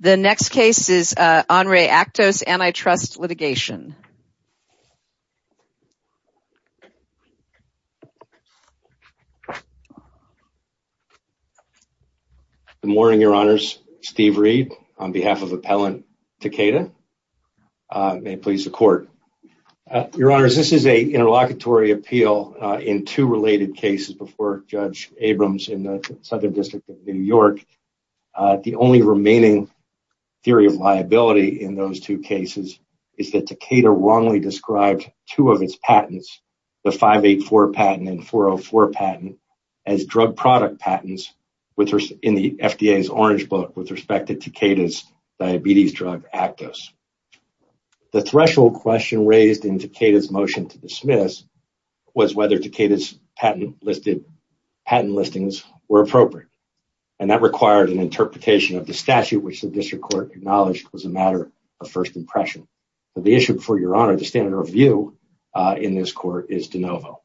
The next case is On Re. ACTOS Antitrust Litigation. Good morning, Your Honors. Steve Reed on behalf of Appellant Takeda. May it please the Court. Your Honors, this is an interlocutory appeal in two related cases before Judge Abrams in the Southern District of New York. The only remaining theory of liability in those two cases is that Takeda wrongly described two of its patents, the 584 patent and 404 patent, as drug product patents in the FDA's Orange Book with respect to Takeda's diabetes drug, ACTOS. The threshold question raised in Takeda's motion to dismiss was whether Takeda's patent listings were appropriate. That required an interpretation of the statute, which the District Court acknowledged was a matter of first impression. The issue before Your Honor, the standard of view in this Court, is de novo.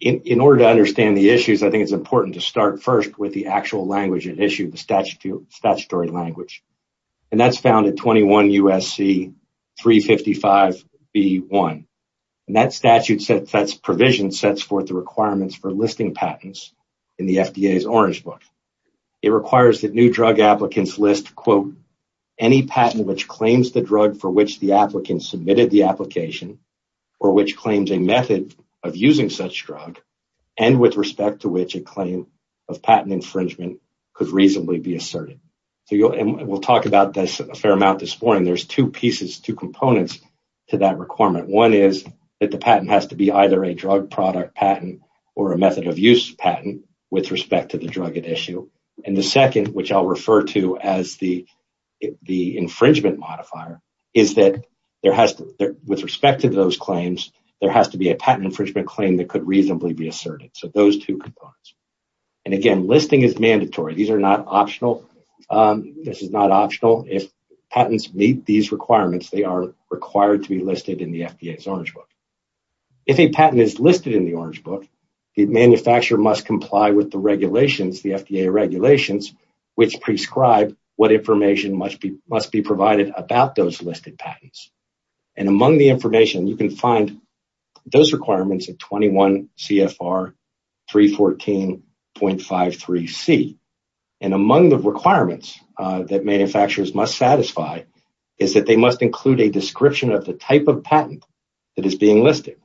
In order to understand the issues, I think it's important to start first with the actual language at issue, the statutory language. That's found at 21 U.S.C. 355 B.1. That statute provision sets forth the requirements for listing patents in the FDA's Orange Book. It requires that new drug applicants list, quote, any patent which claims the drug for which the applicant submitted the application or which claims a method of using such drug and with respect to which a claim of patent infringement could reasonably be asserted. We'll talk about this a fair amount this morning. There's two pieces, two components to that requirement. One is that the patent has to be either a drug product patent or a method of use patent with respect to the drug at issue. And the second, which I'll refer to as the infringement modifier, is that with respect to those claims, there has to be a patent infringement claim that could reasonably be asserted. These are not optional. This is not optional. If patents meet these requirements, they are required to be listed in the FDA's Orange Book. If a patent is listed in the Orange Book, the manufacturer must comply with the regulations, the FDA regulations, which prescribe what information must be must be provided about those listed patents. And among the information, you can find those requirements at 21 CFR 314.53C. And among the requirements that manufacturers must satisfy is that they must include a description of the type of patent that is being listed,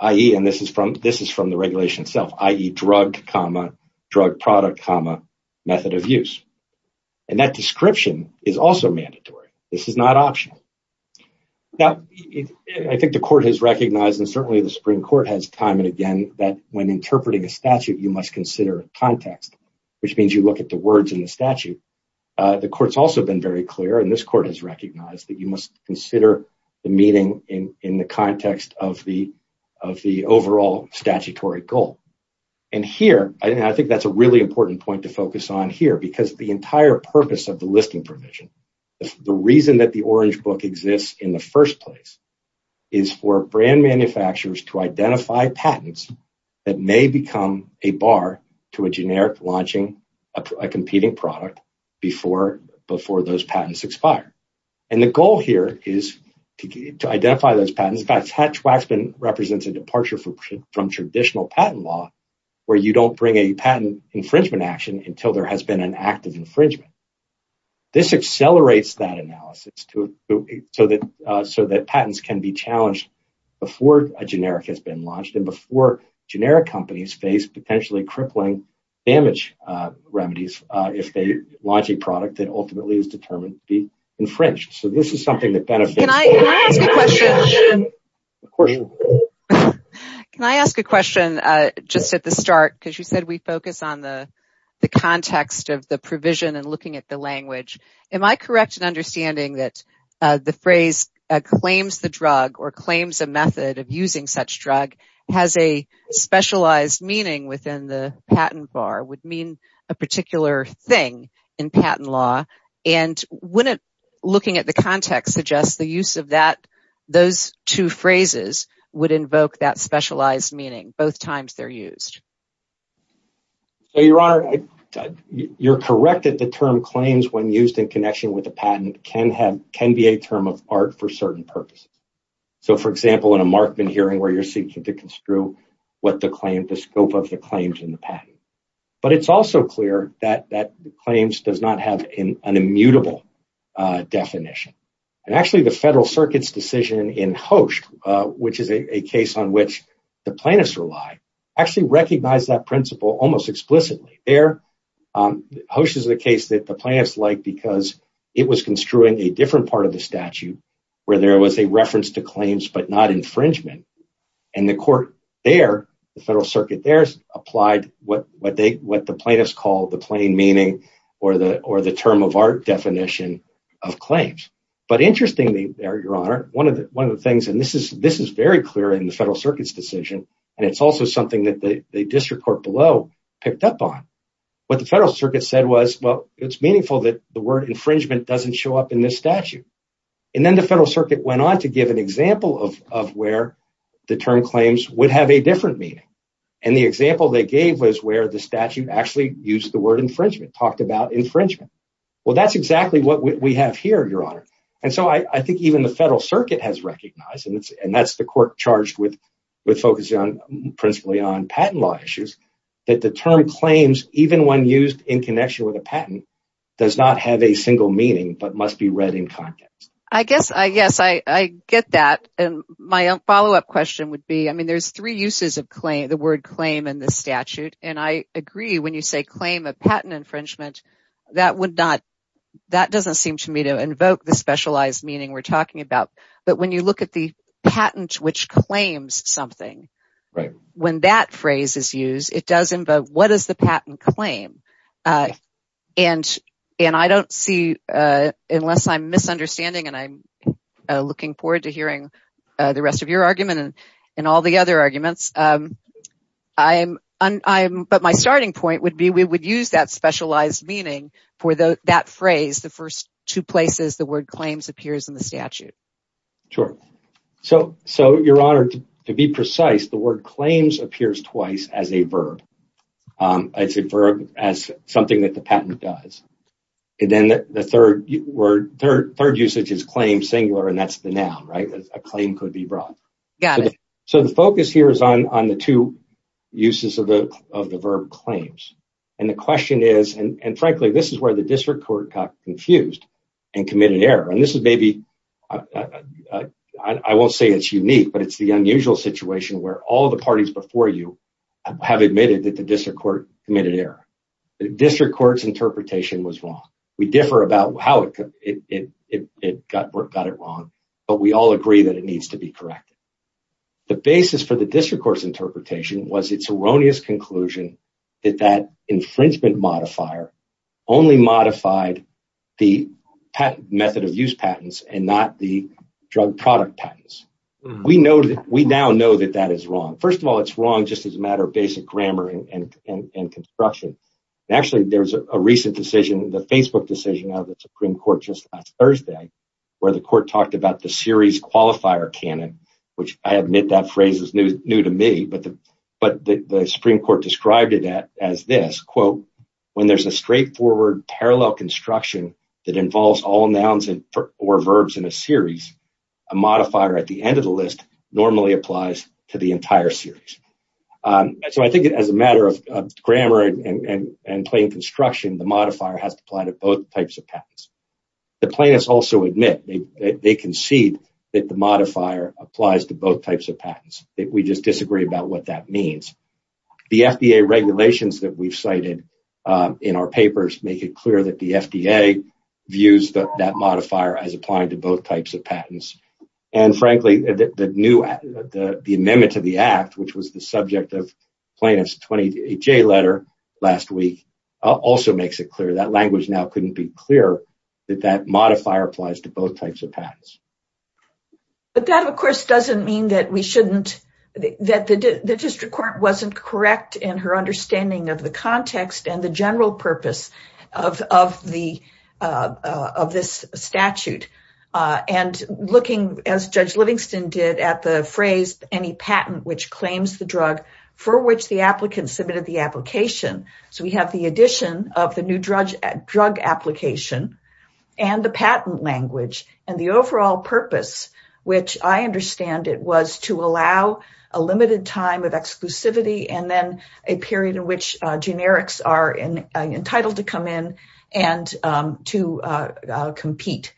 i.e., and this is from the regulation itself, i.e., drug, comma, drug product, comma, method of use. And that description is also mandatory. This is not optional. Now, I think the court has recognized, and certainly the Supreme Court has time and again, that when interpreting a statute, you must consider context, which means you look at the words in the statute. The court's also been very clear, and this court has recognized, that you must consider the meeting in the context of the overall statutory goal. And here, I think that's a really important point to focus on here because the entire purpose of the listing provision, the reason that the Orange Book exists in the first place, is for brand manufacturers to identify patents that may become a bar to a generic launching a competing product before those patents expire. And the goal here is to identify those patents. Hatch-Waxman represents a departure from traditional patent law, where you don't bring a patent infringement action until there has been an active infringement. This accelerates that analysis so that patents can be challenged before a generic has been launched and before generic companies face potentially crippling damage remedies, if they launch a product that ultimately is determined to be infringed. So this is something that benefits. Can I ask a question just at the start? Because you said we focus on the context of the provision and looking at the language. Am I correct in understanding that the phrase claims the drug or claims a method of using such drug, has a specialized meaning within the patent bar, would mean a particular thing in patent law. And when looking at the context suggests the use of that, those two phrases would invoke that specialized meaning both times they're used. Your Honor, you're correct that the term claims when used in connection with a patent can have can be a term of art for certain purposes. So, for example, in a Markman hearing where you're seeking to construe what the claim, the scope of the claims in the patent. But it's also clear that that claims does not have an immutable definition. And actually, the Federal Circuit's decision in Hoche, which is a case on which the plaintiffs rely, actually recognize that principle almost explicitly there. Hoche is the case that the plaintiffs like because it was construing a different part of the statute where there was a reference to claims, but not infringement. And the court there, the Federal Circuit there, has applied what they what the plaintiffs call the plain meaning or the or the term of art definition of claims. But interestingly, Your Honor, one of the one of the things and this is this is very clear in the Federal Circuit's decision. And it's also something that the district court below picked up on. What the Federal Circuit said was, well, it's meaningful that the word infringement doesn't show up in this statute. And then the Federal Circuit went on to give an example of of where the term claims would have a different meaning. And the example they gave was where the statute actually used the word infringement, talked about infringement. Well, that's exactly what we have here, Your Honor. And so I think even the Federal Circuit has recognized. And that's the court charged with with focusing on principally on patent law issues that the term claims, even when used in connection with a patent, does not have a single meaning, but must be read in context. I guess I guess I get that. And my follow up question would be, I mean, there's three uses of claim, the word claim and the statute. And I agree when you say claim of patent infringement, that would not. That doesn't seem to me to invoke the specialized meaning we're talking about. But when you look at the patent, which claims something. Right. When that phrase is used, it doesn't. But what is the patent claim? And and I don't see unless I'm misunderstanding and I'm looking forward to hearing the rest of your argument and all the other arguments. I'm I'm. But my starting point would be we would use that specialized meaning for that phrase. The first two places the word claims appears in the statute. Sure. So so your honor, to be precise, the word claims appears twice as a verb. It's a verb as something that the patent does. And then the third word, third, third usage is claim singular. And that's the noun. Right. A claim could be brought. Got it. So the focus here is on on the two uses of the of the verb claims. And the question is, and frankly, this is where the district court got confused and committed error. And this is maybe I won't say it's unique, but it's the unusual situation where all the parties before you have admitted that the district court committed error. The district court's interpretation was wrong. We differ about how it got it wrong. But we all agree that it needs to be corrected. The basis for the district court's interpretation was its erroneous conclusion that that infringement modifier only modified the method of use patents and not the drug product patents. We know that we now know that that is wrong. First of all, it's wrong just as a matter of basic grammar and construction. Actually, there was a recent decision, the Facebook decision of the Supreme Court just Thursday, where the court talked about the series qualifier canon, which I admit that phrase is new to me. But the but the Supreme Court described it as this, quote, when there's a straightforward parallel construction that involves all nouns or verbs in a series. A modifier at the end of the list normally applies to the entire series. So I think as a matter of grammar and plain construction, the modifier has to apply to both types of patents. The plaintiffs also admit they concede that the modifier applies to both types of patents. We just disagree about what that means. The FDA regulations that we've cited in our papers make it clear that the FDA views that modifier as applying to both types of patents. And frankly, the new the amendment to the act, which was the subject of plaintiff's 20 J letter last week, also makes it clear that language now couldn't be clear that that modifier applies to both types of patents. But that, of course, doesn't mean that we shouldn't that the district court wasn't correct in her understanding of the context and the general purpose of of the of this statute. And looking, as Judge Livingston did at the phrase, any patent which claims the drug for which the applicant submitted the application. So we have the addition of the new drug drug application and the patent language and the overall purpose, which I understand it was to allow a limited time of exclusivity and then a period in which generics are entitled to come in and to compete.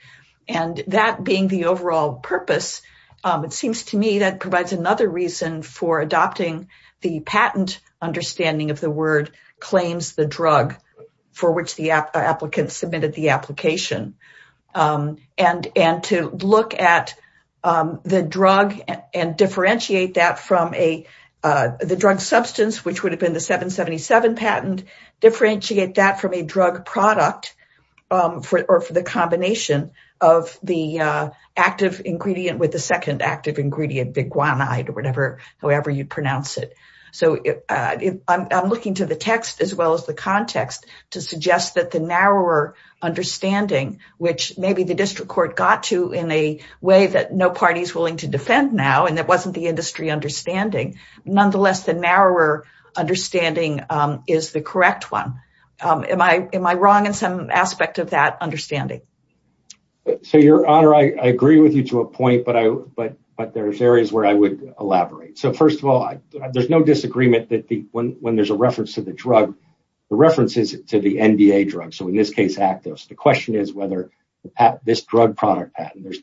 And that being the overall purpose, it seems to me that provides another reason for adopting the patent understanding of the word claims the drug for which the applicants submitted the application. And and to look at the drug and differentiate that from a the drug substance, which would have been the 777 patent differentiate that from a drug product for or for the combination of the active ingredient with the second active ingredient. However, you pronounce it. So I'm looking to the text as well as the context to suggest that the narrower understanding, which maybe the district court got to in a way that no party is willing to defend now. And that wasn't the industry understanding. Nonetheless, the narrower understanding is the correct one. Am I am I wrong in some aspect of that understanding? So, Your Honor, I agree with you to a point, but I but but there's areas where I would elaborate. So, first of all, there's no disagreement that when when there's a reference to the drug, the references to the NBA drug. So in this case, Actos, the question is whether this drug product patent, there's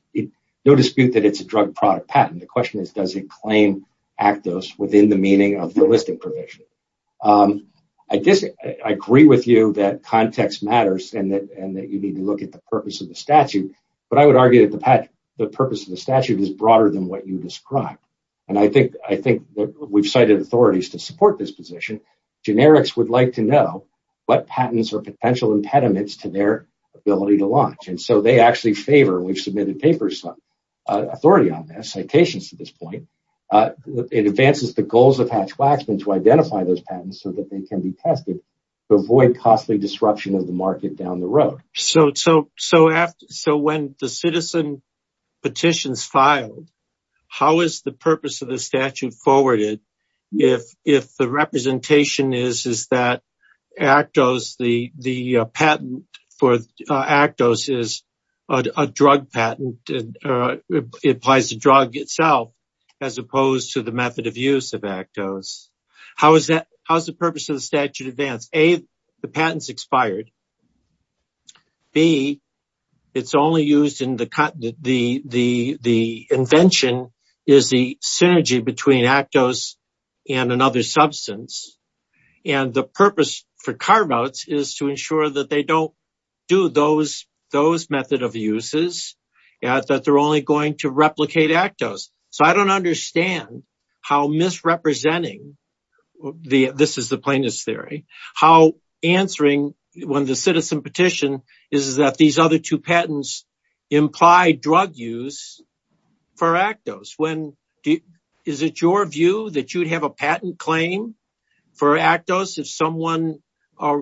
no dispute that it's a drug product patent. The question is, does it claim Actos within the meaning of the listing provision? I disagree. I agree with you that context matters and that and that you need to look at the purpose of the statute. But I would argue that the purpose of the statute is broader than what you described. And I think I think that we've cited authorities to support this position. Generics would like to know what patents or potential impediments to their ability to launch. And so they actually favor. We've submitted papers. Authority on their citations to this point. It advances the goals of Hatch Waxman to identify those patents so that they can be tested to avoid costly disruption of the market down the road. So so so so when the citizen petitions filed, how is the purpose of the statute forwarded? If if the representation is, is that Actos, the the patent for Actos is a drug patent. It applies to drug itself as opposed to the method of use of Actos. How is that? How's the purpose of the statute advance? A, the patents expired. B, it's only used in the cut. The the the invention is the synergy between Actos and another substance. And the purpose for carve outs is to ensure that they don't do those those method of uses that they're only going to replicate Actos. So I don't understand how misrepresenting the this is the plaintiff's theory, how answering when the citizen petition is that these other two patents imply drug use for Actos. When is it your view that you'd have a patent claim for Actos if someone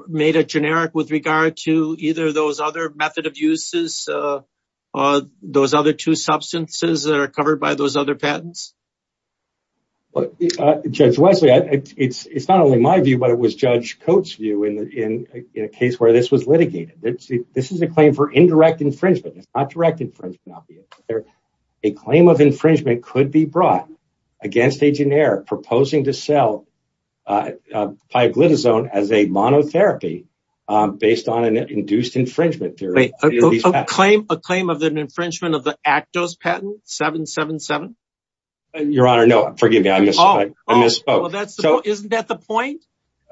made a generic with regard to either those other method of uses or those other two substances that are covered by those other patents? But Judge Wesley, it's not only my view, but it was Judge Coates view in a case where this was litigated. This is a claim for indirect infringement, not direct infringement. A claim of infringement could be brought against a generic proposing to sell pioglitazone as a monotherapy based on an induced infringement. A claim, a claim of an infringement of the Actos patent 777. Your Honor, no, forgive me. I misspoke. Isn't that the point?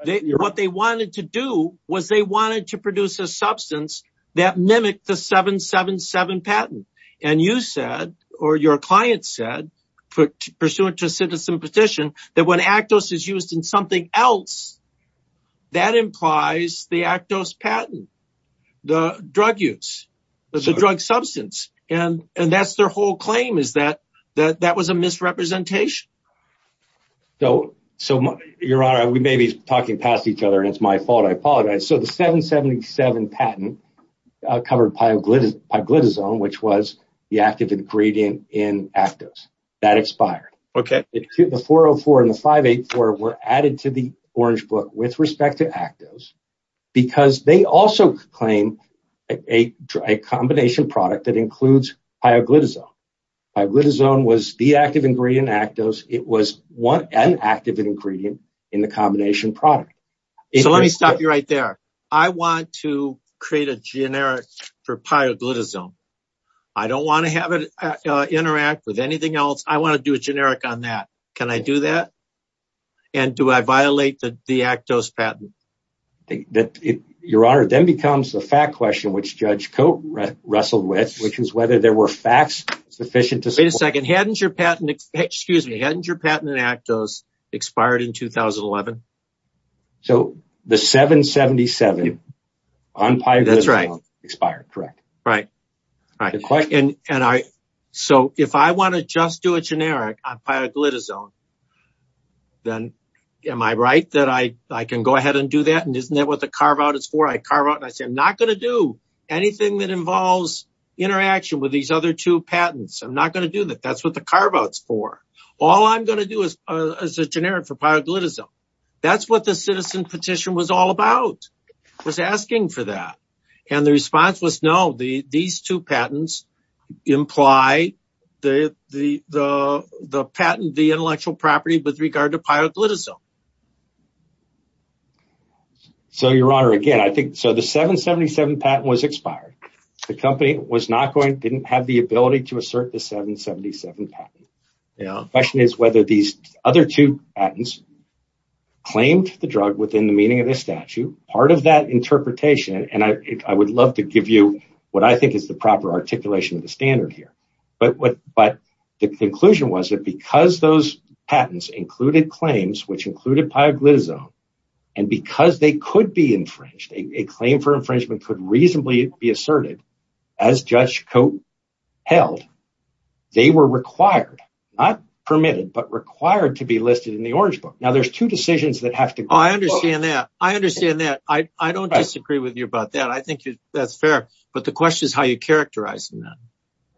What they wanted to do was they wanted to produce a substance that mimicked the 777 patent. And you said or your client said, put pursuant to a citizen petition, that when Actos is used in something else, that implies the Actos patent, the drug use, the drug substance. And that's their whole claim is that that was a misrepresentation. So, so your Honor, we may be talking past each other and it's my fault. I apologize. So the 777 patent covered pioglitazone, which was the active ingredient in Actos that expired. The 404 and the 584 were added to the Orange Book with respect to Actos because they also claim a combination product that includes pioglitazone. Pioglitazone was the active ingredient in Actos. It was an active ingredient in the combination product. So let me stop you right there. I want to create a generic for pioglitazone. I don't want to have it interact with anything else. I want to do a generic on that. Can I do that? And do I violate the Actos patent? Your Honor, then becomes the fact question, which Judge Cote wrestled with, which is whether there were facts sufficient to support. Wait a second. Hadn't your patent in Actos expired in 2011? So the 777 on pioglitazone expired, correct. So if I want to just do a generic on pioglitazone, then am I right that I can go ahead and do that? And isn't that what the carve-out is for? I carve out and I say I'm not going to do anything that involves interaction with these other two patents. I'm not going to do that. That's what the carve-out is for. All I'm going to do is a generic for pioglitazone. That's what the citizen petition was all about, was asking for that. And the response was, no, these two patents imply the intellectual property with regard to pioglitazone. So, Your Honor, again, I think the 777 patent was expired. The company didn't have the ability to assert the 777 patent. The question is whether these other two patents claimed the drug within the meaning of the statute. Part of that interpretation, and I would love to give you what I think is the proper articulation of the standard here, but the conclusion was that because those patents included claims which included pioglitazone, and because they could be infringed, a claim for infringement could reasonably be asserted, as Judge Cote held, they were required, not permitted, but required to be listed in the Orange Book. I understand that. I don't disagree with you about that. I think that's fair. But the question is how you characterize them.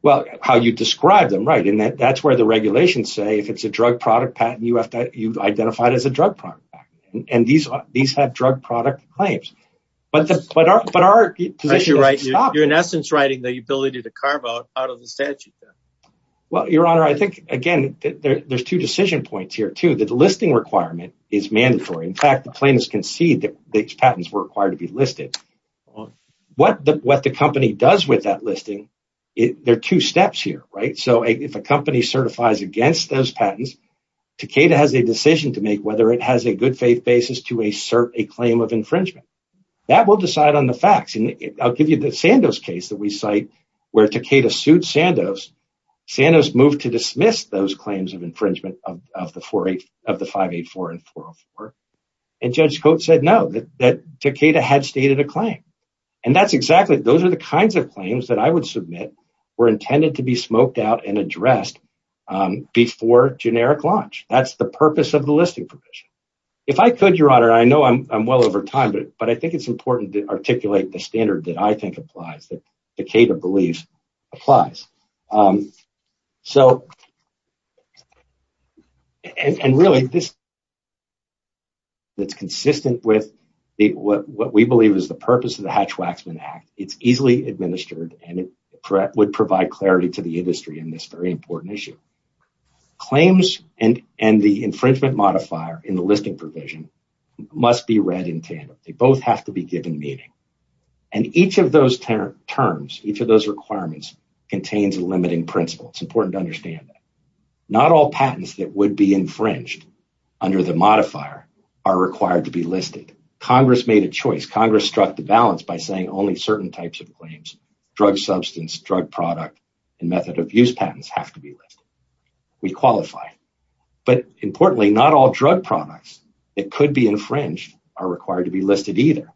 Well, how you describe them, right? That's where the regulations say if it's a drug product patent, you have to identify it as a drug product patent. And these have drug product claims. You're in essence writing the ability to carve-out out of the statute. Well, Your Honor, I think, again, there's two decision points here, too. The listing requirement is mandatory. In fact, the plaintiffs concede that these patents were required to be listed. What the company does with that listing, there are two steps here, right? If a company certifies against those patents, Takeda has a decision to make whether it has a good faith basis to assert a claim of infringement. That will decide on the facts. I'll give you the Sandoz case that we cite where Takeda sued Sandoz. Sandoz moved to dismiss those claims of infringement of the 584 and 404. And Judge Coates said no, that Takeda had stated a claim. And that's exactly, those are the kinds of claims that I would submit were intended to be smoked out and addressed before generic launch. That's the purpose of the listing provision. If I could, Your Honor, I know I'm well over time, but I think it's important to articulate the standard that I think applies, that Takeda believes applies. So, and really, this is consistent with what we believe is the purpose of the Hatch-Waxman Act. It's easily administered, and it would provide clarity to the industry in this very important issue. Claims and the infringement modifier in the listing provision must be read in tandem. They both have to be given meaning. And each of those terms, each of those requirements contains a limiting principle. It's important to understand that. Not all patents that would be infringed under the modifier are required to be listed. Congress made a choice. Congress struck the balance by saying only certain types of claims, drug substance, drug product, and method of use patents have to be listed. We qualify. But importantly, not all drug products that could be infringed are required to be listed either.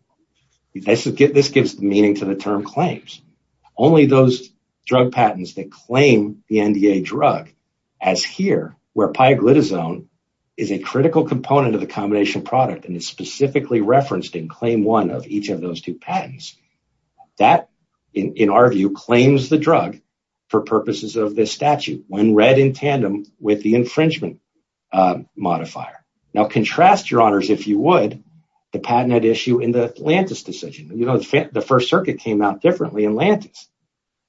This gives meaning to the term claims. Only those drug patents that claim the NDA drug, as here, where pioglitazone is a critical component of the combination product and is specifically referenced in claim one of each of those two patents, that, in our view, claims the drug for purposes of this statute when read in tandem with the infringement modifier. Now, contrast, Your Honors, if you would, the patent issue in the Atlantis decision. The First Circuit came out differently in Atlantis.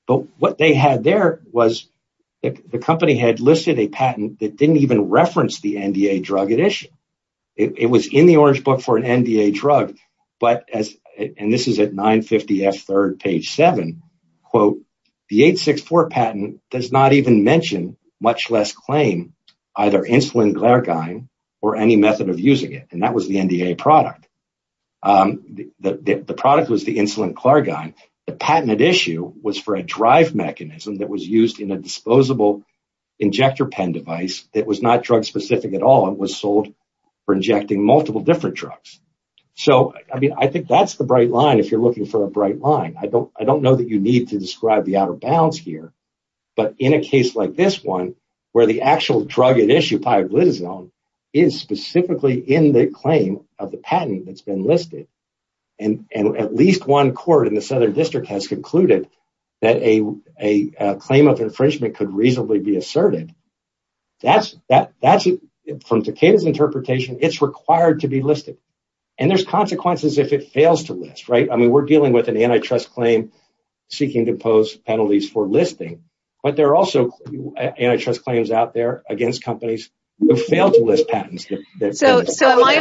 But what they had there was the company had listed a patent that didn't even reference the NDA drug edition. It was in the Orange Book for an NDA drug, and this is at 950F3rd, page 7. The 864 patent does not even mention, much less claim, either insulin glargine or any method of using it, and that was the NDA product. The product was the insulin glargine. The patent at issue was for a drive mechanism that was used in a disposable injector pen device that was not drug-specific at all and was sold for injecting multiple different drugs. So, I mean, I think that's the bright line if you're looking for a bright line. I don't know that you need to describe the out-of-bounds here, but in a case like this one, where the actual drug at issue, pioblitazone, is specifically in the claim of the patent that's been listed, and at least one court in the Southern District has concluded that a claim of infringement could reasonably be asserted, from Takeda's interpretation, it's required to be listed. And there's consequences if it fails to list, right? I mean, we're dealing with an antitrust claim seeking to pose penalties for listing, but there are also antitrust claims out there against companies who fail to list patents. So, am I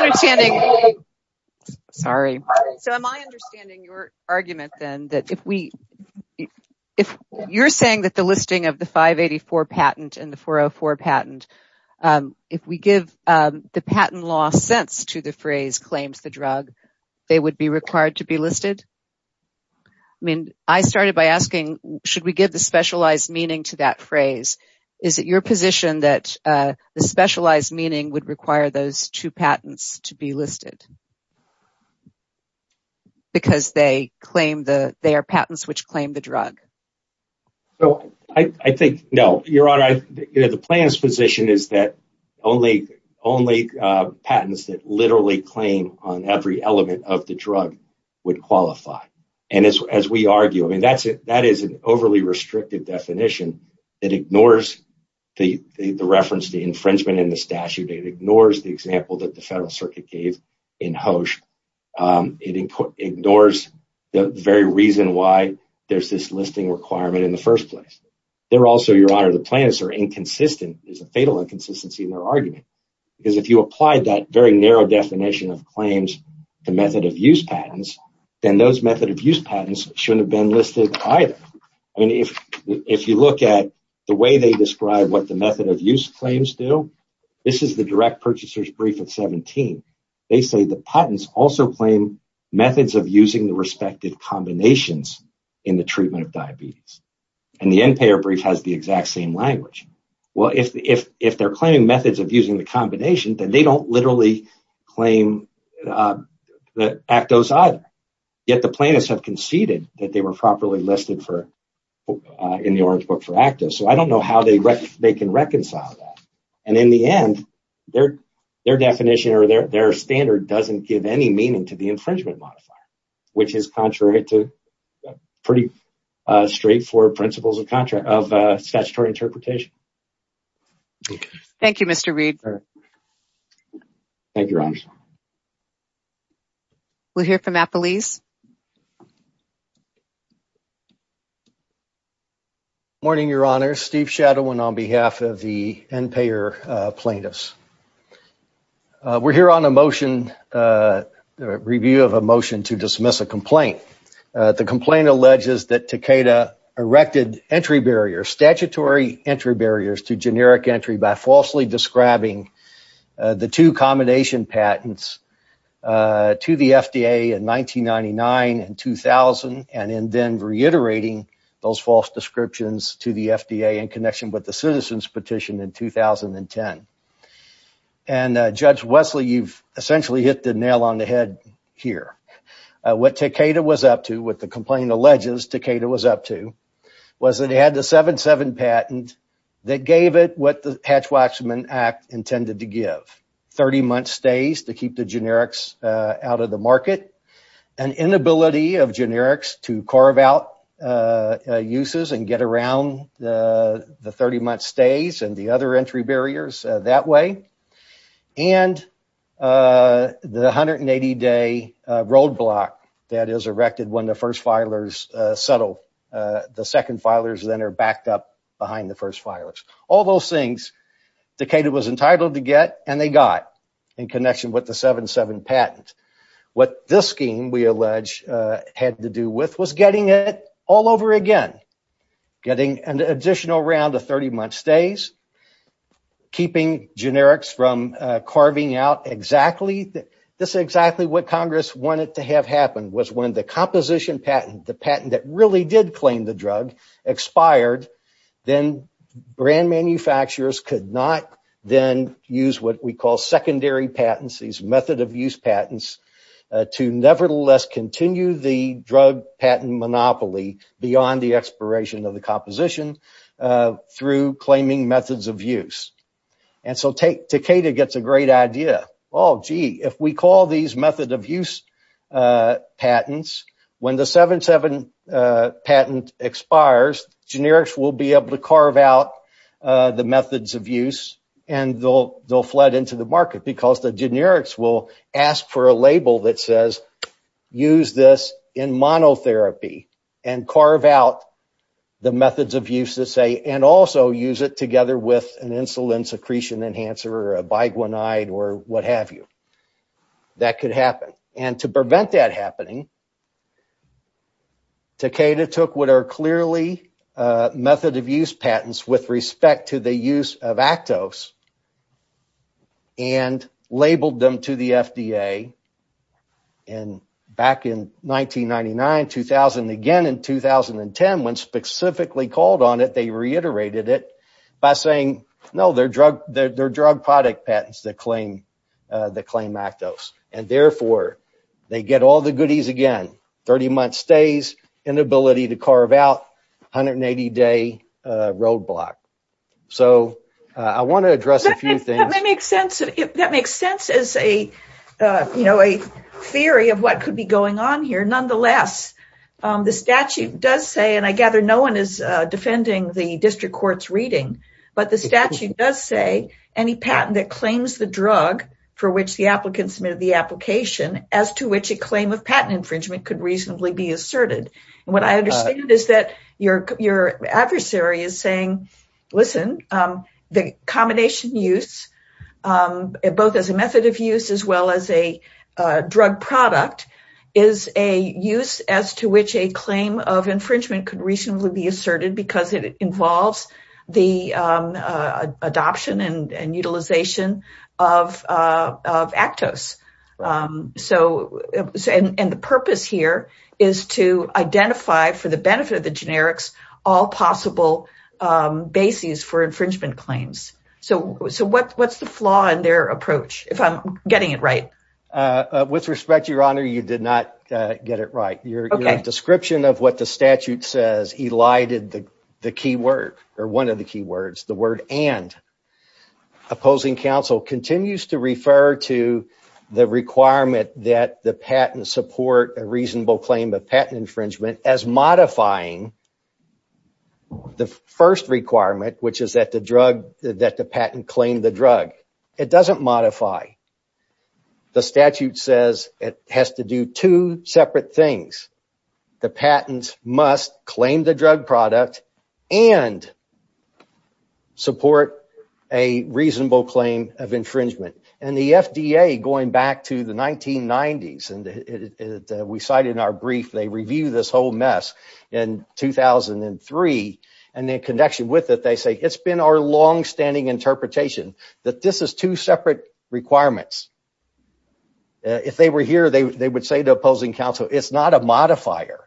understanding your argument, then, that if you're saying that the listing of the 584 patent and the 404 patent, if we give the patent law sense to the phrase claims the drug, they would be required to be listed? I mean, I started by asking, should we give the specialized meaning to that phrase? Is it your position that the specialized meaning would require those two patents to be listed because they are patents which claim the drug? So, I think, no. Your Honor, the plan's position is that only patents that literally claim on every element of the drug would qualify. And as we argue, I mean, that is an overly restrictive definition. It ignores the reference to infringement in the statute. It ignores the example that the Federal Circuit gave in Hoche. It ignores the very reason why there's this listing requirement in the first place. There also, Your Honor, the plaintiffs are inconsistent. There's a fatal inconsistency in their argument. If you applied that very narrow definition of claims, the method of use patents, then those method of use patents shouldn't have been listed either. I mean, if you look at the way they describe what the method of use claims do, this is the direct purchaser's brief of 17. They say the patents also claim methods of using the respective combinations in the treatment of diabetes. And the end-payer brief has the exact same language. Well, if they're claiming methods of using the combination, then they don't literally claim the ACTOs either. Yet, the plaintiffs have conceded that they were properly listed in the Orange Book for ACTOs. So, I don't know how they can reconcile that. And in the end, their definition or their standard doesn't give any meaning to the infringement modifier, which is contrary to pretty straightforward principles of statutory interpretation. Thank you, Mr. Reed. Thank you, Your Honor. We'll hear from Appleese. Morning, Your Honor. Steve Shadowin on behalf of the end-payer plaintiffs. We're here on a motion, a review of a motion to dismiss a complaint. The complaint alleges that Takeda erected entry barriers, statutory entry barriers, to generic entry by falsely describing the two combination patents to the FDA in 1999 and 2000 and then reiterating those false descriptions to the FDA in connection with the citizens petition in 2010. And, Judge Wesley, you've essentially hit the nail on the head here. What Takeda was up to, what the complaint alleges Takeda was up to, was that it had the 7-7 patent that gave it what the Hatch-Waxman Act intended to give, 30-month stays to keep the generics out of the market, an inability of generics to carve out uses and get around the 30-month stays and the other entry barriers that way, and the 180-day roadblock that is erected when the first filers settle. The second filers then are backed up behind the first filers. All those things Takeda was entitled to get and they got in connection with the 7-7 patent. What this scheme, we allege, had to do with was getting it all over again, getting an additional round of 30-month stays, keeping generics from carving out exactly, this is exactly what Congress wanted to have happen, was when the composition patent, the patent that really did claim the drug, expired, then brand manufacturers could not then use what we call secondary patents, these method of use patents, to nevertheless continue the drug patent monopoly beyond the expiration of the composition through claiming methods of use. And so Takeda gets a great idea. Oh, gee, if we call these method of use patents, when the 7-7 patent expires, generics will be able to carve out the methods of use and they'll flood into the market because the generics will ask for a label that says use this in monotherapy and carve out the methods of use to say, and also use it together with an insulin secretion enhancer or a biguanide or what have you. That could happen. And to prevent that happening, Takeda took what are clearly method of use patents with respect to the use of Actos and labeled them to the FDA. And back in 1999, 2000, again in 2010, when specifically called on it, they reiterated it by saying, no, they're drug product patents that claim Actos. And therefore, they get all the goodies again. 30-month stays, inability to carve out, 180-day roadblock. So I want to address a few things. That makes sense as a theory of what could be going on here. Nonetheless, the statute does say, and I gather no one is defending the district court's reading, but the statute does say any patent that claims the drug for which the applicant submitted the application as to which a claim of patent infringement could reasonably be asserted. And what I understand is that your adversary is saying, listen, the combination use, both as a method of use as well as a drug product, is a use as to which a claim of infringement could reasonably be asserted because it involves the adoption and utilization of Actos. And the purpose here is to identify for the benefit of the generics all possible bases for infringement claims. So what's the flaw in their approach, if I'm getting it right? With respect, Your Honor, you did not get it right. Your description of what the statute says elided the key word, or one of the key words, the word and. Opposing counsel continues to refer to the requirement that the patent support a reasonable claim of patent infringement as modifying the first requirement, which is that the patent claim the drug. It doesn't modify. The statute says it has to do two separate things. The patents must claim the drug product and support a reasonable claim of infringement. And the FDA, going back to the 1990s, and we cite in our brief, they review this whole mess in 2003. And in connection with it, they say it's been our longstanding interpretation that this is two separate requirements. If they were here, they would say to opposing counsel, it's not a modifier.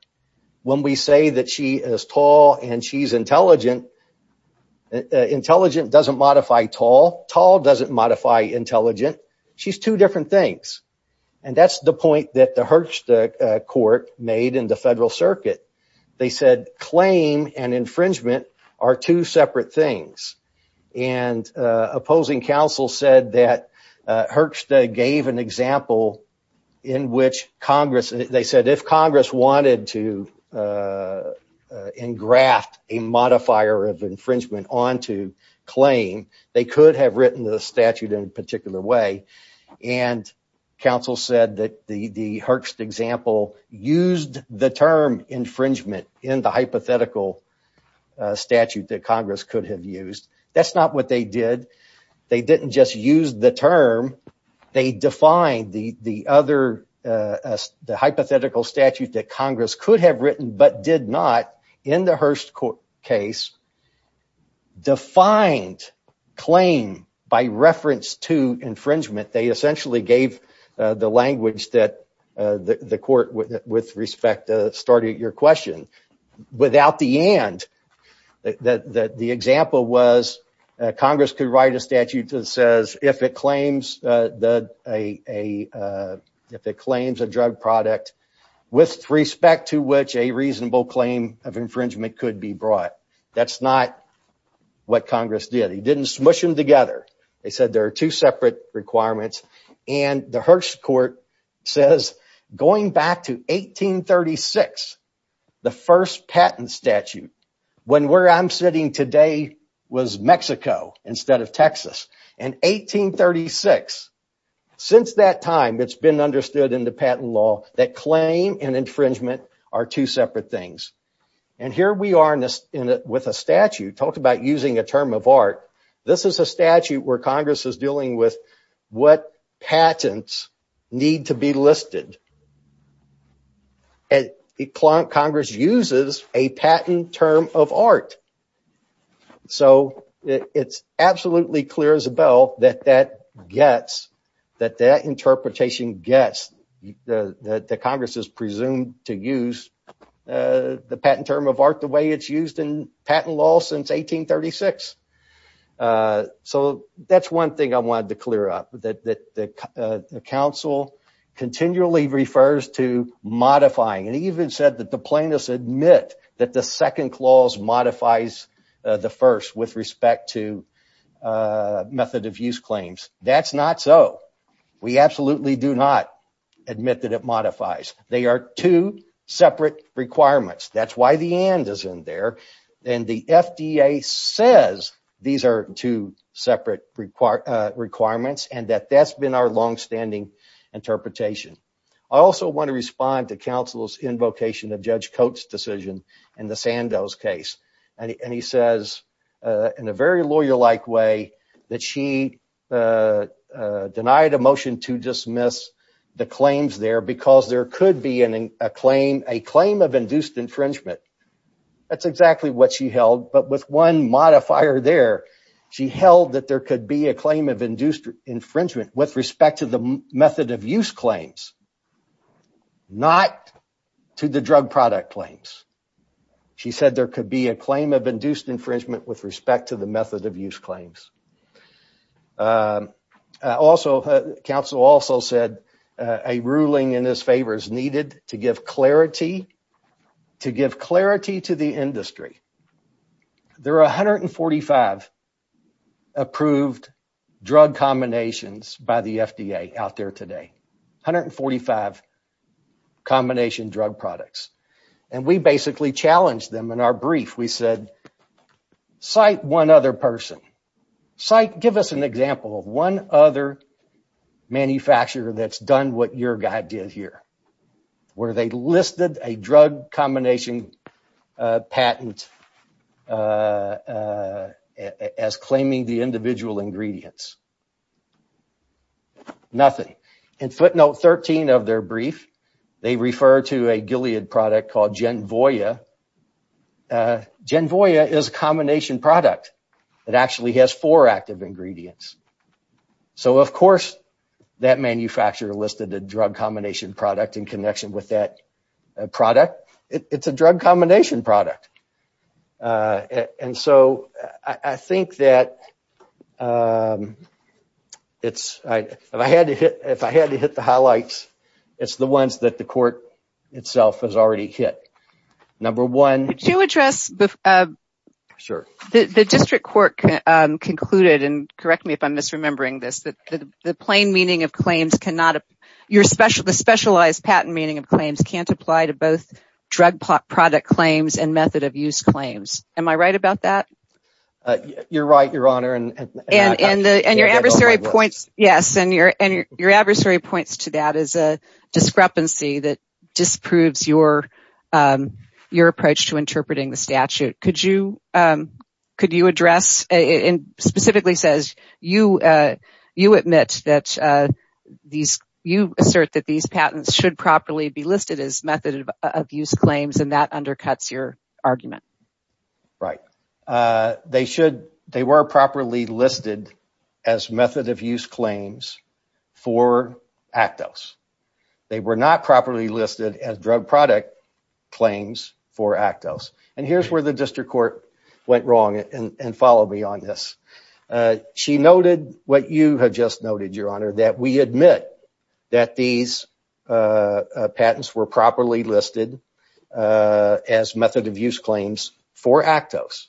When we say that she is tall and she's intelligent, intelligent doesn't modify tall. Tall doesn't modify intelligent. She's two different things. And that's the point that the court made in the federal circuit. They said claim and infringement are two separate things. And opposing counsel said that Herxt gave an example in which Congress, they said if Congress wanted to engraft a modifier of infringement onto claim, they could have written the statute in a particular way. And counsel said that the Herxt example used the term infringement in the hypothetical statute that Congress could have used. That's not what they did. They didn't just use the term. They defined the other, the hypothetical statute that Congress could have written but did not in the Herxt case, defined claim by reference to infringement. They essentially gave the language that the court, with respect, started your question. Without the end, the example was Congress could write a statute that says if it claims a drug product with respect to which a reasonable claim of infringement could be brought. That's not what Congress did. They didn't smush them together. They said there are two separate requirements. The Herxt court says going back to 1836, the first patent statute, when where I'm sitting today was Mexico instead of Texas. In 1836, since that time, it's been understood in the patent law that claim and infringement are two separate things. And here we are with a statute talked about using a term of art. This is a statute where Congress is dealing with what patents need to be listed. And Congress uses a patent term of art. So it's absolutely clear, Isabel, that that gets, that that interpretation gets, that Congress is presumed to use the patent term of art the way it's used in patent law since 1836. So that's one thing I wanted to clear up, that the council continually refers to modifying. It even said that the plaintiffs admit that the second clause modifies the first with respect to method of use claims. That's not so. We absolutely do not admit that it modifies. They are two separate requirements. That's why the and is in there. And the FDA says these are two separate requirements, and that that's been our longstanding interpretation. I also want to respond to counsel's invocation of Judge Coates' decision in the Sandoz case. And he says in a very lawyer-like way that she denied a motion to dismiss the claims there because there could be a claim, a claim of induced infringement. That's exactly what she held. But with one modifier there, she held that there could be a claim of induced infringement with respect to the method of use claims, not to the drug product claims. She said there could be a claim of induced infringement with respect to the method of use claims. Also, counsel also said a ruling in his favor is needed to give clarity, clarity to the industry. There are 145 approved drug combinations by the FDA out there today, 145 combination drug products. And we basically challenged them in our brief. We said cite one other person. Cite, give us an example of one other manufacturer that's done what your guy did here, where they listed a drug combination patent as claiming the individual ingredients. Nothing. In footnote 13 of their brief, they refer to a Gilead product called Genvoia. Genvoia is a combination product. It actually has four active ingredients. So, of course, that manufacturer listed a drug combination product in connection with that product. It's a drug combination product. And so I think that if I had to hit the highlights, it's the ones that the court itself has already hit. Number one. Could you address, the district court concluded, and correct me if I'm misremembering this, that the plain meaning of claims cannot, the specialized patent meaning of claims can't apply to both drug product claims and method of use claims. Am I right about that? You're right, Your Honor. And your adversary points to that as a discrepancy that disproves your approach to interpreting the statute. Could you address, and specifically says, you admit that you assert that these patents should properly be listed as method of use claims, and that undercuts your argument. Right. They were properly listed as method of use claims for Actos. They were not properly listed as drug product claims for Actos. And here's where the district court went wrong, and follow me on this. She noted what you have just noted, Your Honor, that we admit that these patents were properly listed as method of use claims for Actos.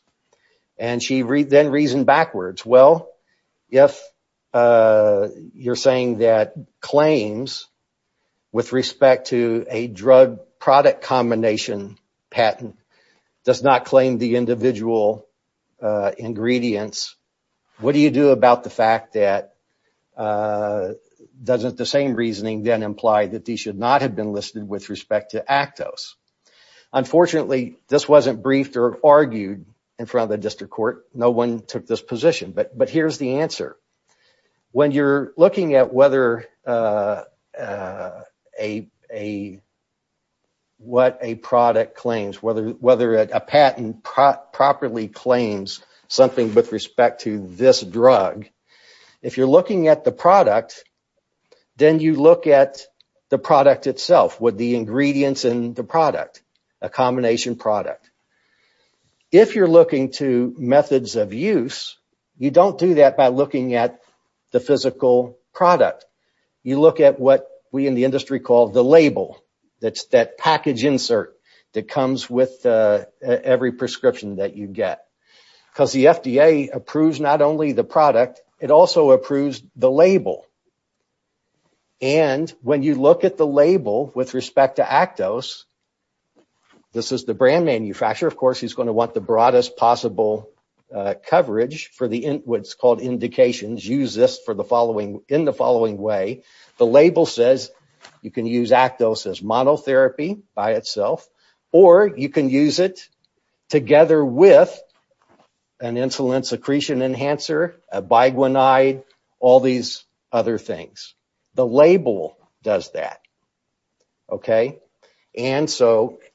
And she then reasoned backwards. Well, if you're saying that claims with respect to a drug product combination patent does not claim the individual ingredients, what do you do about the fact that doesn't the same reasoning then imply that these should not have been listed with respect to Actos? Unfortunately, this wasn't briefed or argued in front of the district court. No one took this position, but here's the answer. When you're looking at what a product claims, whether a patent properly claims something with respect to this drug, if you're looking at the product, then you look at the product itself with the ingredients in the product, a combination product. If you're looking to methods of use, you don't do that by looking at the physical product. You look at what we in the industry call the label, that package insert that comes with every prescription that you get. Because the FDA approves not only the product, it also approves the label. And when you look at the label with respect to Actos, this is the brand manufacturer. Of course, he's going to want the broadest possible coverage for what's called indications. Use this in the following way. The label says you can use Actos as monotherapy by itself, or you can use it together with an insulin secretion enhancer, a biguanide, all these other things. The label does that.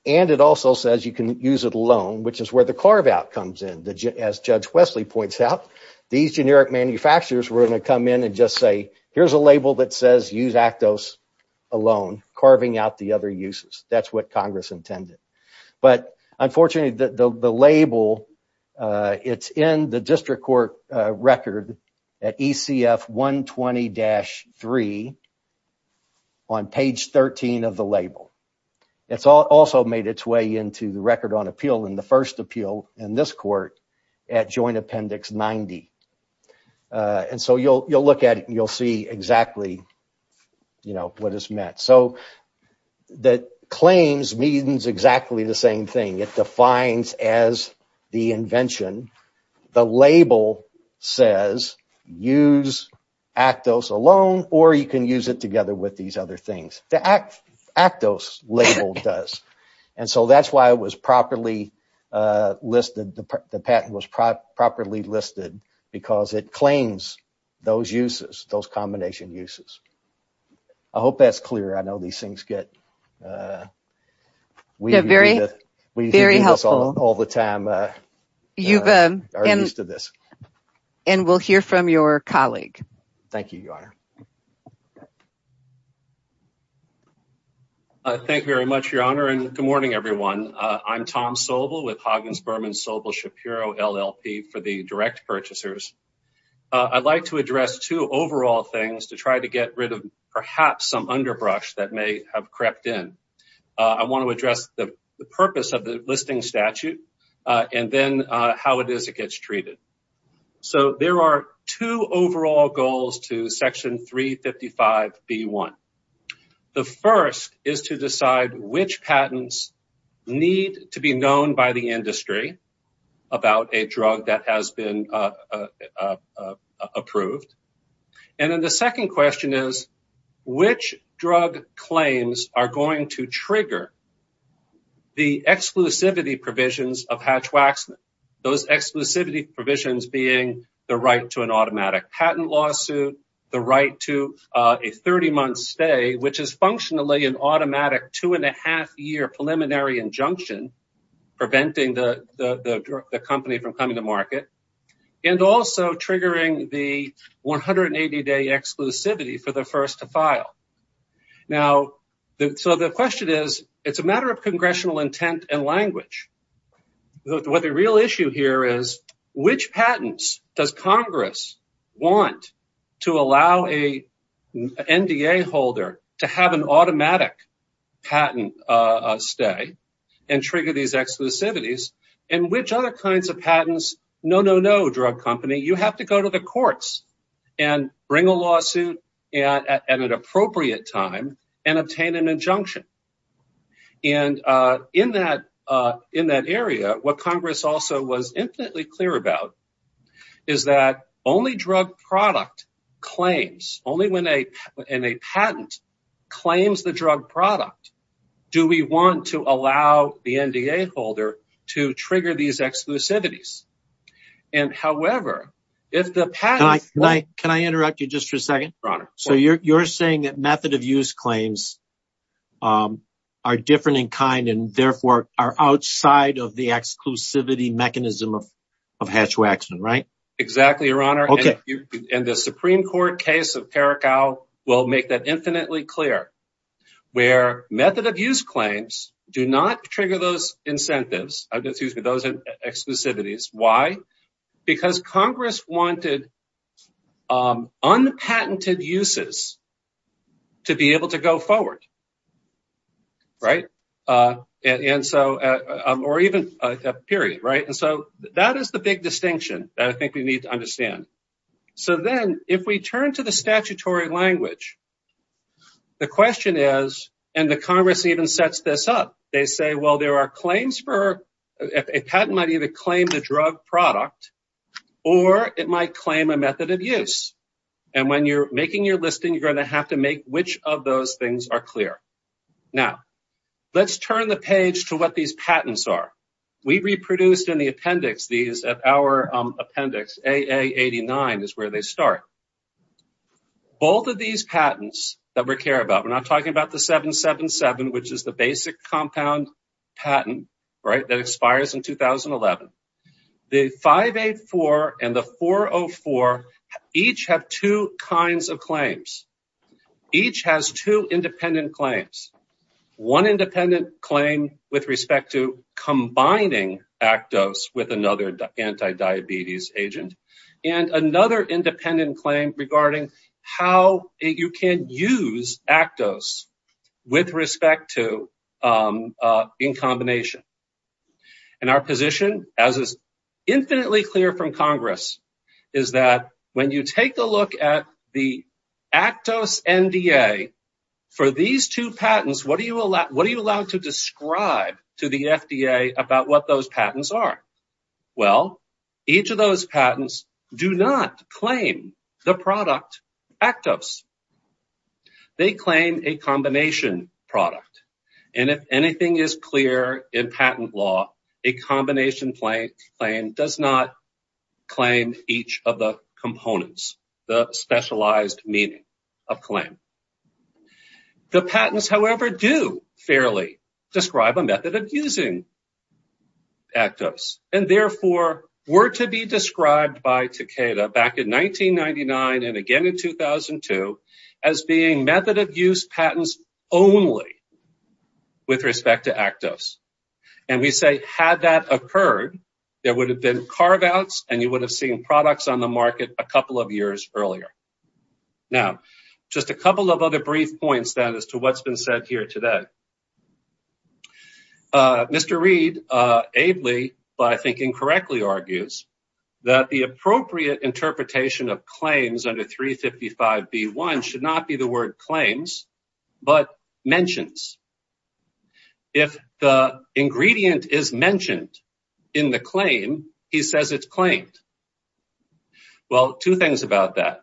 And it also says you can use it alone, which is where the carve out comes in. As Judge Wesley points out, these generic manufacturers were going to come in and just say, here's a label that says use Actos alone, carving out the other uses. That's what Congress intended. But unfortunately, the label, it's in the district court record at ECF 120-3 on page 13 of the label. It's also made its way into the record on appeal in the first appeal in this court at Joint Appendix 90. And so you'll look at it and you'll see exactly what it's meant. So the claims means exactly the same thing. It defines as the invention. The label says use Actos alone, or you can use it together with these other things. The Actos label does. And so that's why it was properly listed, the patent was properly listed, because it claims those uses, those combination uses. I hope that's clear. I know these things get weird. Very helpful. All the time. You are used to this. And we'll hear from your colleague. Thank you, Your Honor. Thank you very much, Your Honor, and good morning, everyone. I'm Tom Sobel with Hoggins Berman Sobel Shapiro LLP for the direct purchasers. I'd like to address two overall things to try to get rid of perhaps some underbrush that may have crept in. I want to address the purpose of the listing statute and then how it is it gets treated. So there are two overall goals to Section 355B1. The first is to decide which patents need to be known by the industry about a drug that has been approved. And then the second question is, which drug claims are going to trigger the exclusivity provisions of Hatch-Waxman? Those exclusivity provisions being the right to an automatic patent lawsuit, the right to a 30-month stay, which is functionally an automatic two-and-a-half-year preliminary injunction preventing the company from coming to market, and also triggering the 180-day exclusivity for the first to file. Now, so the question is, it's a matter of congressional intent and language. The real issue here is, which patents does Congress want to allow an NDA holder to have an automatic patent stay and trigger these exclusivities, and which other kinds of patents, no, no, no, drug company, you have to go to the courts and bring a lawsuit at an appropriate time and obtain an injunction. And in that area, what Congress also was infinitely clear about is that only drug product claims, only when a patent claims the drug product do we want to allow the NDA holder to trigger these exclusivities. And however, if the patent… Can I interrupt you just for a second? Your Honor. So you're saying that method-of-use claims are different in kind and therefore are outside of the exclusivity mechanism of Hatch-Waxman, right? Exactly, Your Honor. Okay. And the Supreme Court case of Caracal will make that infinitely clear, where method-of-use claims do not trigger those incentives, excuse me, those exclusivities. Why? Because Congress wanted unpatented uses to be able to go forward, right? And so, or even a period, right? And so that is the big distinction that I think we need to understand. So then if we turn to the statutory language, the question is, and the Congress even sets this up, they say, well, there are claims for… A patent might either claim the drug product or it might claim a method-of-use. And when you're making your listing, you're going to have to make which of those things are clear. Now, let's turn the page to what these patents are. We reproduced in the appendix these at our appendix, AA89 is where they start. Both of these patents that we care about, we're not talking about the 777, which is the basic compound patent, right, that expires in 2011. The 584 and the 404 each have two kinds of claims. Each has two independent claims. One independent claim with respect to combining Actos with another anti-diabetes agent. And another independent claim regarding how you can use Actos with respect to in combination. And our position, as is infinitely clear from Congress, is that when you take a look at the Actos NDA, for these two patents, what are you allowed to describe to the FDA about what those patents are? Well, each of those patents do not claim the product Actos. They claim a combination product. And if anything is clear in patent law, a combination claim does not claim each of the components, the specialized meaning of claim. The patents, however, do fairly describe a method of using Actos, and therefore were to be described by Takeda back in 1999 and again in 2002 as being method of use patents only with respect to Actos. And we say had that occurred, there would have been carve-outs and you would have seen products on the market a couple of years earlier. Now, just a couple of other brief points then as to what's been said here today. Mr. Reid ably, but I think incorrectly argues, that the appropriate interpretation of claims under 355B1 should not be the word claims, but mentions. If the ingredient is mentioned in the claim, he says it's claimed. Well, two things about that.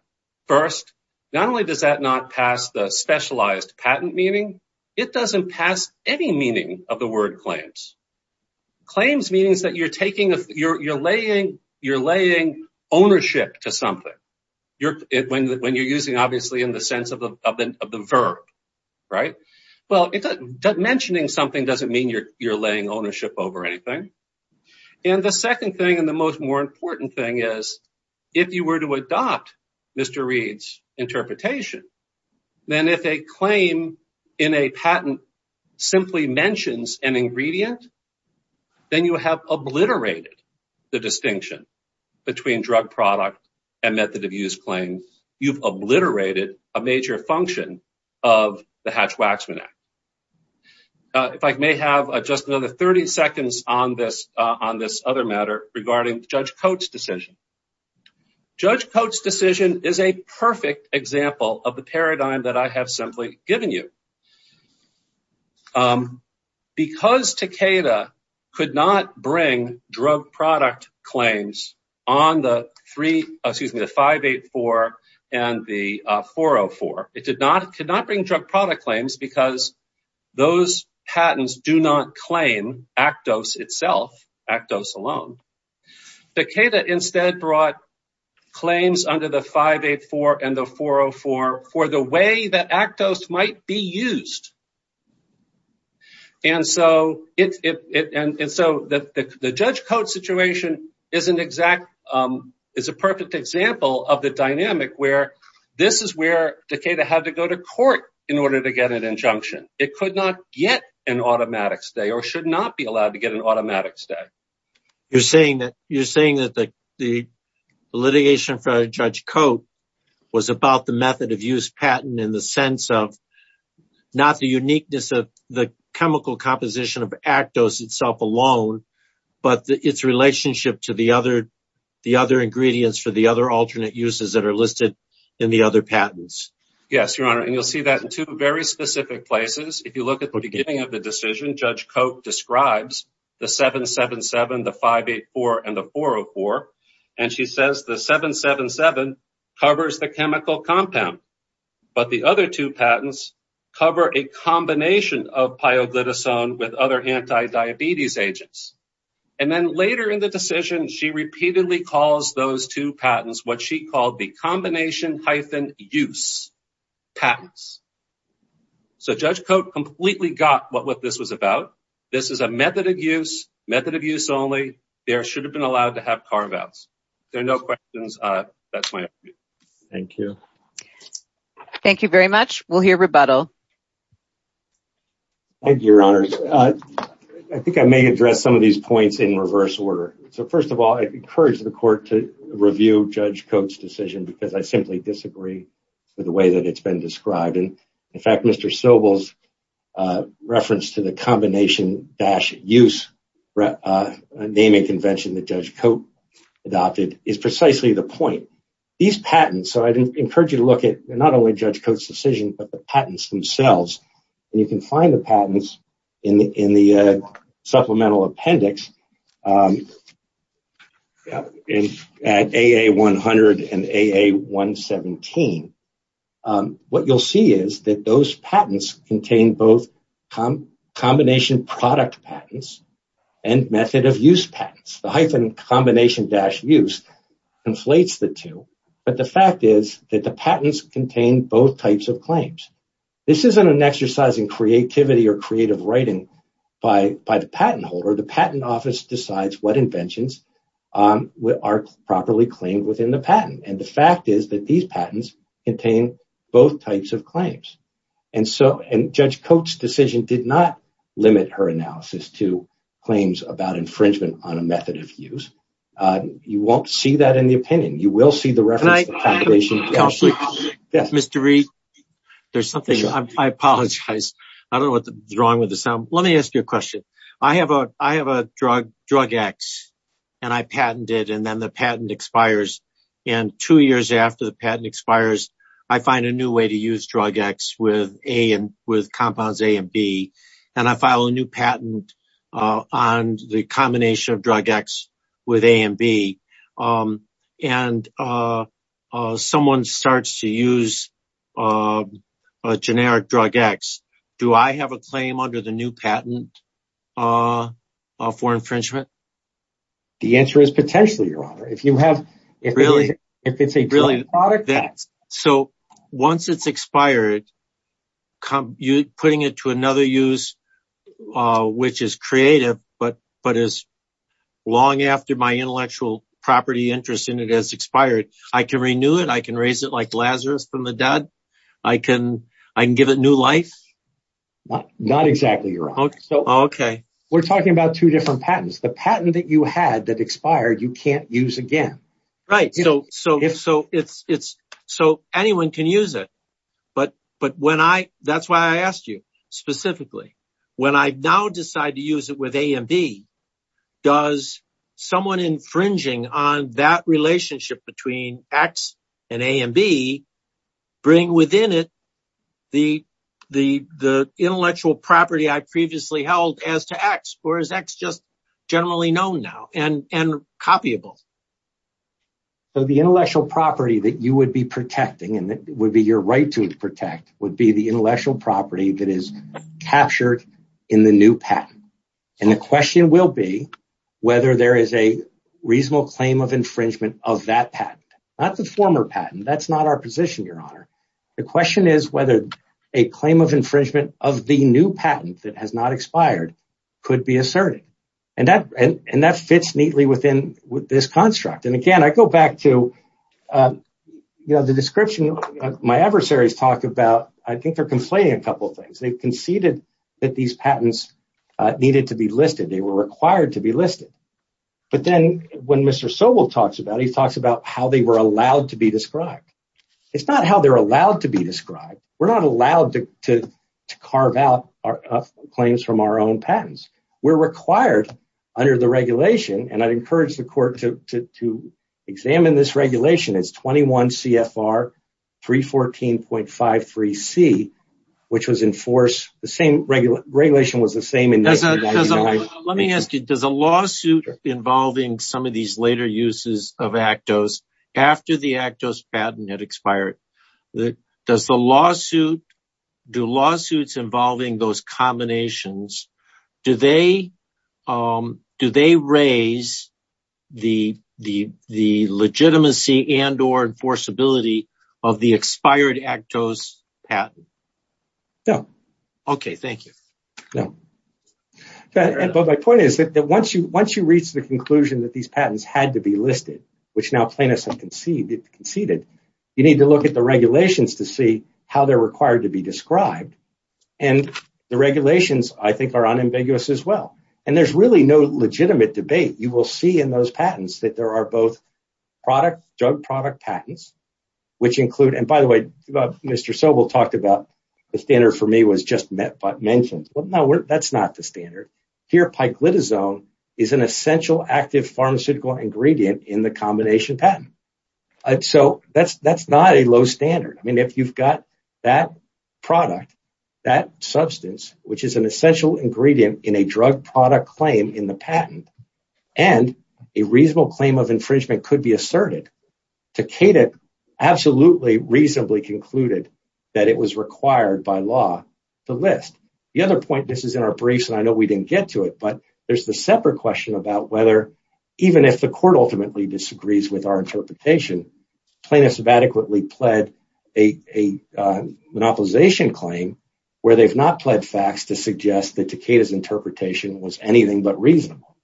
First, not only does that not pass the specialized patent meaning, it doesn't pass any meaning of the word claims. Claims means that you're laying ownership to something, when you're using obviously in the sense of the verb, right? Well, mentioning something doesn't mean you're laying ownership over anything. And the second thing and the most more important thing is, if you were to adopt Mr. Reid's interpretation, then if a claim in a patent simply mentions an ingredient, then you have obliterated the distinction between drug product and method of use claim. You've obliterated a major function of the Hatch-Waxman Act. If I may have just another 30 seconds on this other matter regarding Judge Coates' decision. Judge Coates' decision is a perfect example of the paradigm that I have simply given you. Because Takeda could not bring drug product claims on the 584 and the 404, it could not bring drug product claims because those patents do not claim Actos itself, Actos alone. Takeda instead brought claims under the 584 and the 404 for the way that Actos might be used. The Judge Coates' situation is a perfect example of the dynamic where this is where Takeda had to go to court in order to get an injunction. It could not get an automatic stay or should not be allowed to get an automatic stay. You're saying that the litigation for Judge Coates was about the method of use patent in the sense of not the uniqueness of the chemical composition of Actos itself alone, but its relationship to the other ingredients for the other alternate uses that are listed in the other patents. Yes, Your Honor. You'll see that in two very specific places. If you look at the beginning of the decision, Judge Coates describes the 777, the 584, and the 404. She says the 777 covers the chemical compound, but the other two patents cover a combination of pioglitazone with other anti-diabetes agents. And then later in the decision, she repeatedly calls those two patents what she called the combination-use patents. So Judge Coates completely got what this was about. This is a method of use, method of use only. There should have been allowed to have carve-outs. If there are no questions, that's my opinion. Thank you. Thank you very much. We'll hear rebuttal. Thank you, Your Honor. I think I may address some of these points in reverse order. First of all, I encourage the Court to review Judge Coates' decision because I simply disagree with the way that it's been described. In fact, Mr. Sobel's reference to the combination-use naming convention that Judge Coates adopted is precisely the point. I'd encourage you to look at not only Judge Coates' decision, but the patents themselves. You can find the patents in the supplemental appendix at AA100 and AA117. What you'll see is that those patents contain both combination-product patents and method-of-use patents. The hyphen combination-use conflates the two, but the fact is that the patents contain both types of claims. This isn't an exercise in creativity or creative writing by the patent holder. The patent office decides what inventions are properly claimed within the patent. The fact is that these patents contain both types of claims. Judge Coates' decision did not limit her analysis to claims about infringement on a method-of-use. You won't see that in the opinion. You will see the reference to combination-use. Mr. Reed, I apologize. I don't know what's wrong with the sound. Let me ask you a question. I have a drug, drug X, and I patent it, and then the patent expires. Two years after the patent expires, I find a new way to use drug X with compounds A and B. I file a new patent on the combination of drug X with A and B. Someone starts to use a generic drug X. Do I have a claim under the new patent for infringement? The answer is potentially, Your Honor. Really? If it's a drug-product patent. Once it's expired, putting it to another use, which is creative, but as long after my intellectual property interest in it has expired, I can renew it. I can raise it like Lazarus from the dead. I can give it new life. Not exactly, Your Honor. Okay. We're talking about two different patents. The patent that you had that expired, you can't use again. Right. Anyone can use it. That's why I asked you specifically. When I now decide to use it with A and B, does someone infringing on that relationship between X and A and B bring within it the intellectual property I previously held as to X, or is X just generally known now and copyable? The intellectual property that you would be protecting, and it would be your right to protect, would be the intellectual property that is captured in the new patent. The question will be whether there is a reasonable claim of infringement of that patent. Not the former patent. That's not our position, Your Honor. The question is whether a claim of infringement of the new patent that has not expired could be asserted. That fits neatly within this construct. Again, I go back to the description my adversaries talk about. I think they're complaining a couple of things. They conceded that these patents needed to be listed. They were required to be listed. But then when Mr. Sobel talks about it, he talks about how they were allowed to be described. It's not how they're allowed to be described. We're not allowed to carve out claims from our own patents. We're required under the regulation, and I'd encourage the court to examine this regulation. It's 21 CFR 314.53C, which was in force. The same regulation was the same in 1999. Let me ask you, does a lawsuit involving some of these later uses of Actos after the Actos patent had expired, do lawsuits involving those combinations raise the legitimacy and or enforceability of the expired Actos patent? No. Okay, thank you. My point is that once you reach the conclusion that these patents had to be listed, which now plaintiffs have conceded, you need to look at the regulations to see how they're required to be described. And the regulations, I think, are unambiguous as well. And there's really no legitimate debate. You will see in those patents that there are both drug product patents, which include – and by the way, Mr. Sobel talked about the standard for me was just mentioned. Well, no, that's not the standard. Here, piclitazone is an essential active pharmaceutical ingredient in the combination patent. So that's not a low standard. I mean, if you've got that product, that substance, which is an essential ingredient in a drug product claim in the patent, and a reasonable claim of infringement could be asserted, Takeda absolutely reasonably concluded that it was required by law to list. The other point, this is in our briefs, and I know we didn't get to it, but there's the separate question about whether even if the court ultimately disagrees with our interpretation, plaintiffs have adequately pled a monopolization claim where they've not pled facts to suggest that Takeda's interpretation was anything but reasonable.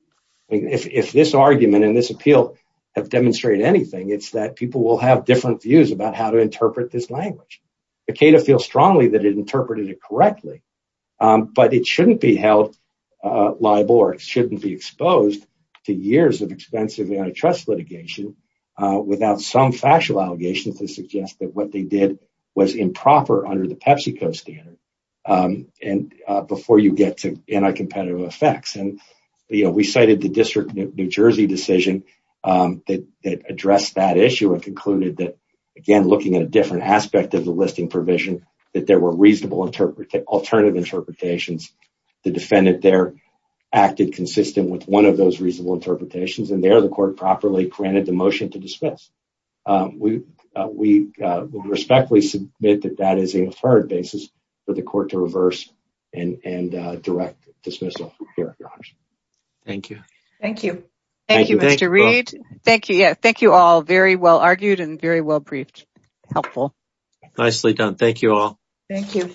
I mean, if this argument and this appeal have demonstrated anything, it's that people will have different views about how to interpret this language. Takeda feels strongly that it interpreted it correctly, but it shouldn't be held liable or shouldn't be exposed to years of expensive antitrust litigation without some factual allegations to suggest that what they did was improper under the PepsiCo standard. And before you get to anti-competitive effects, and we cited the District of New Jersey decision that addressed that issue and concluded that, again, looking at a different aspect of the listing provision, that there were reasonable alternative interpretations. The defendant there acted consistent with one of those reasonable interpretations, and there the court properly granted the motion to dismiss. We respectfully submit that that is an inferred basis for the court to reverse and direct dismissal. Thank you. Thank you. Thank you, Mr. Reed. Thank you all. Very well argued and very well briefed. Helpful. Nicely done. Thank you all. Thank you.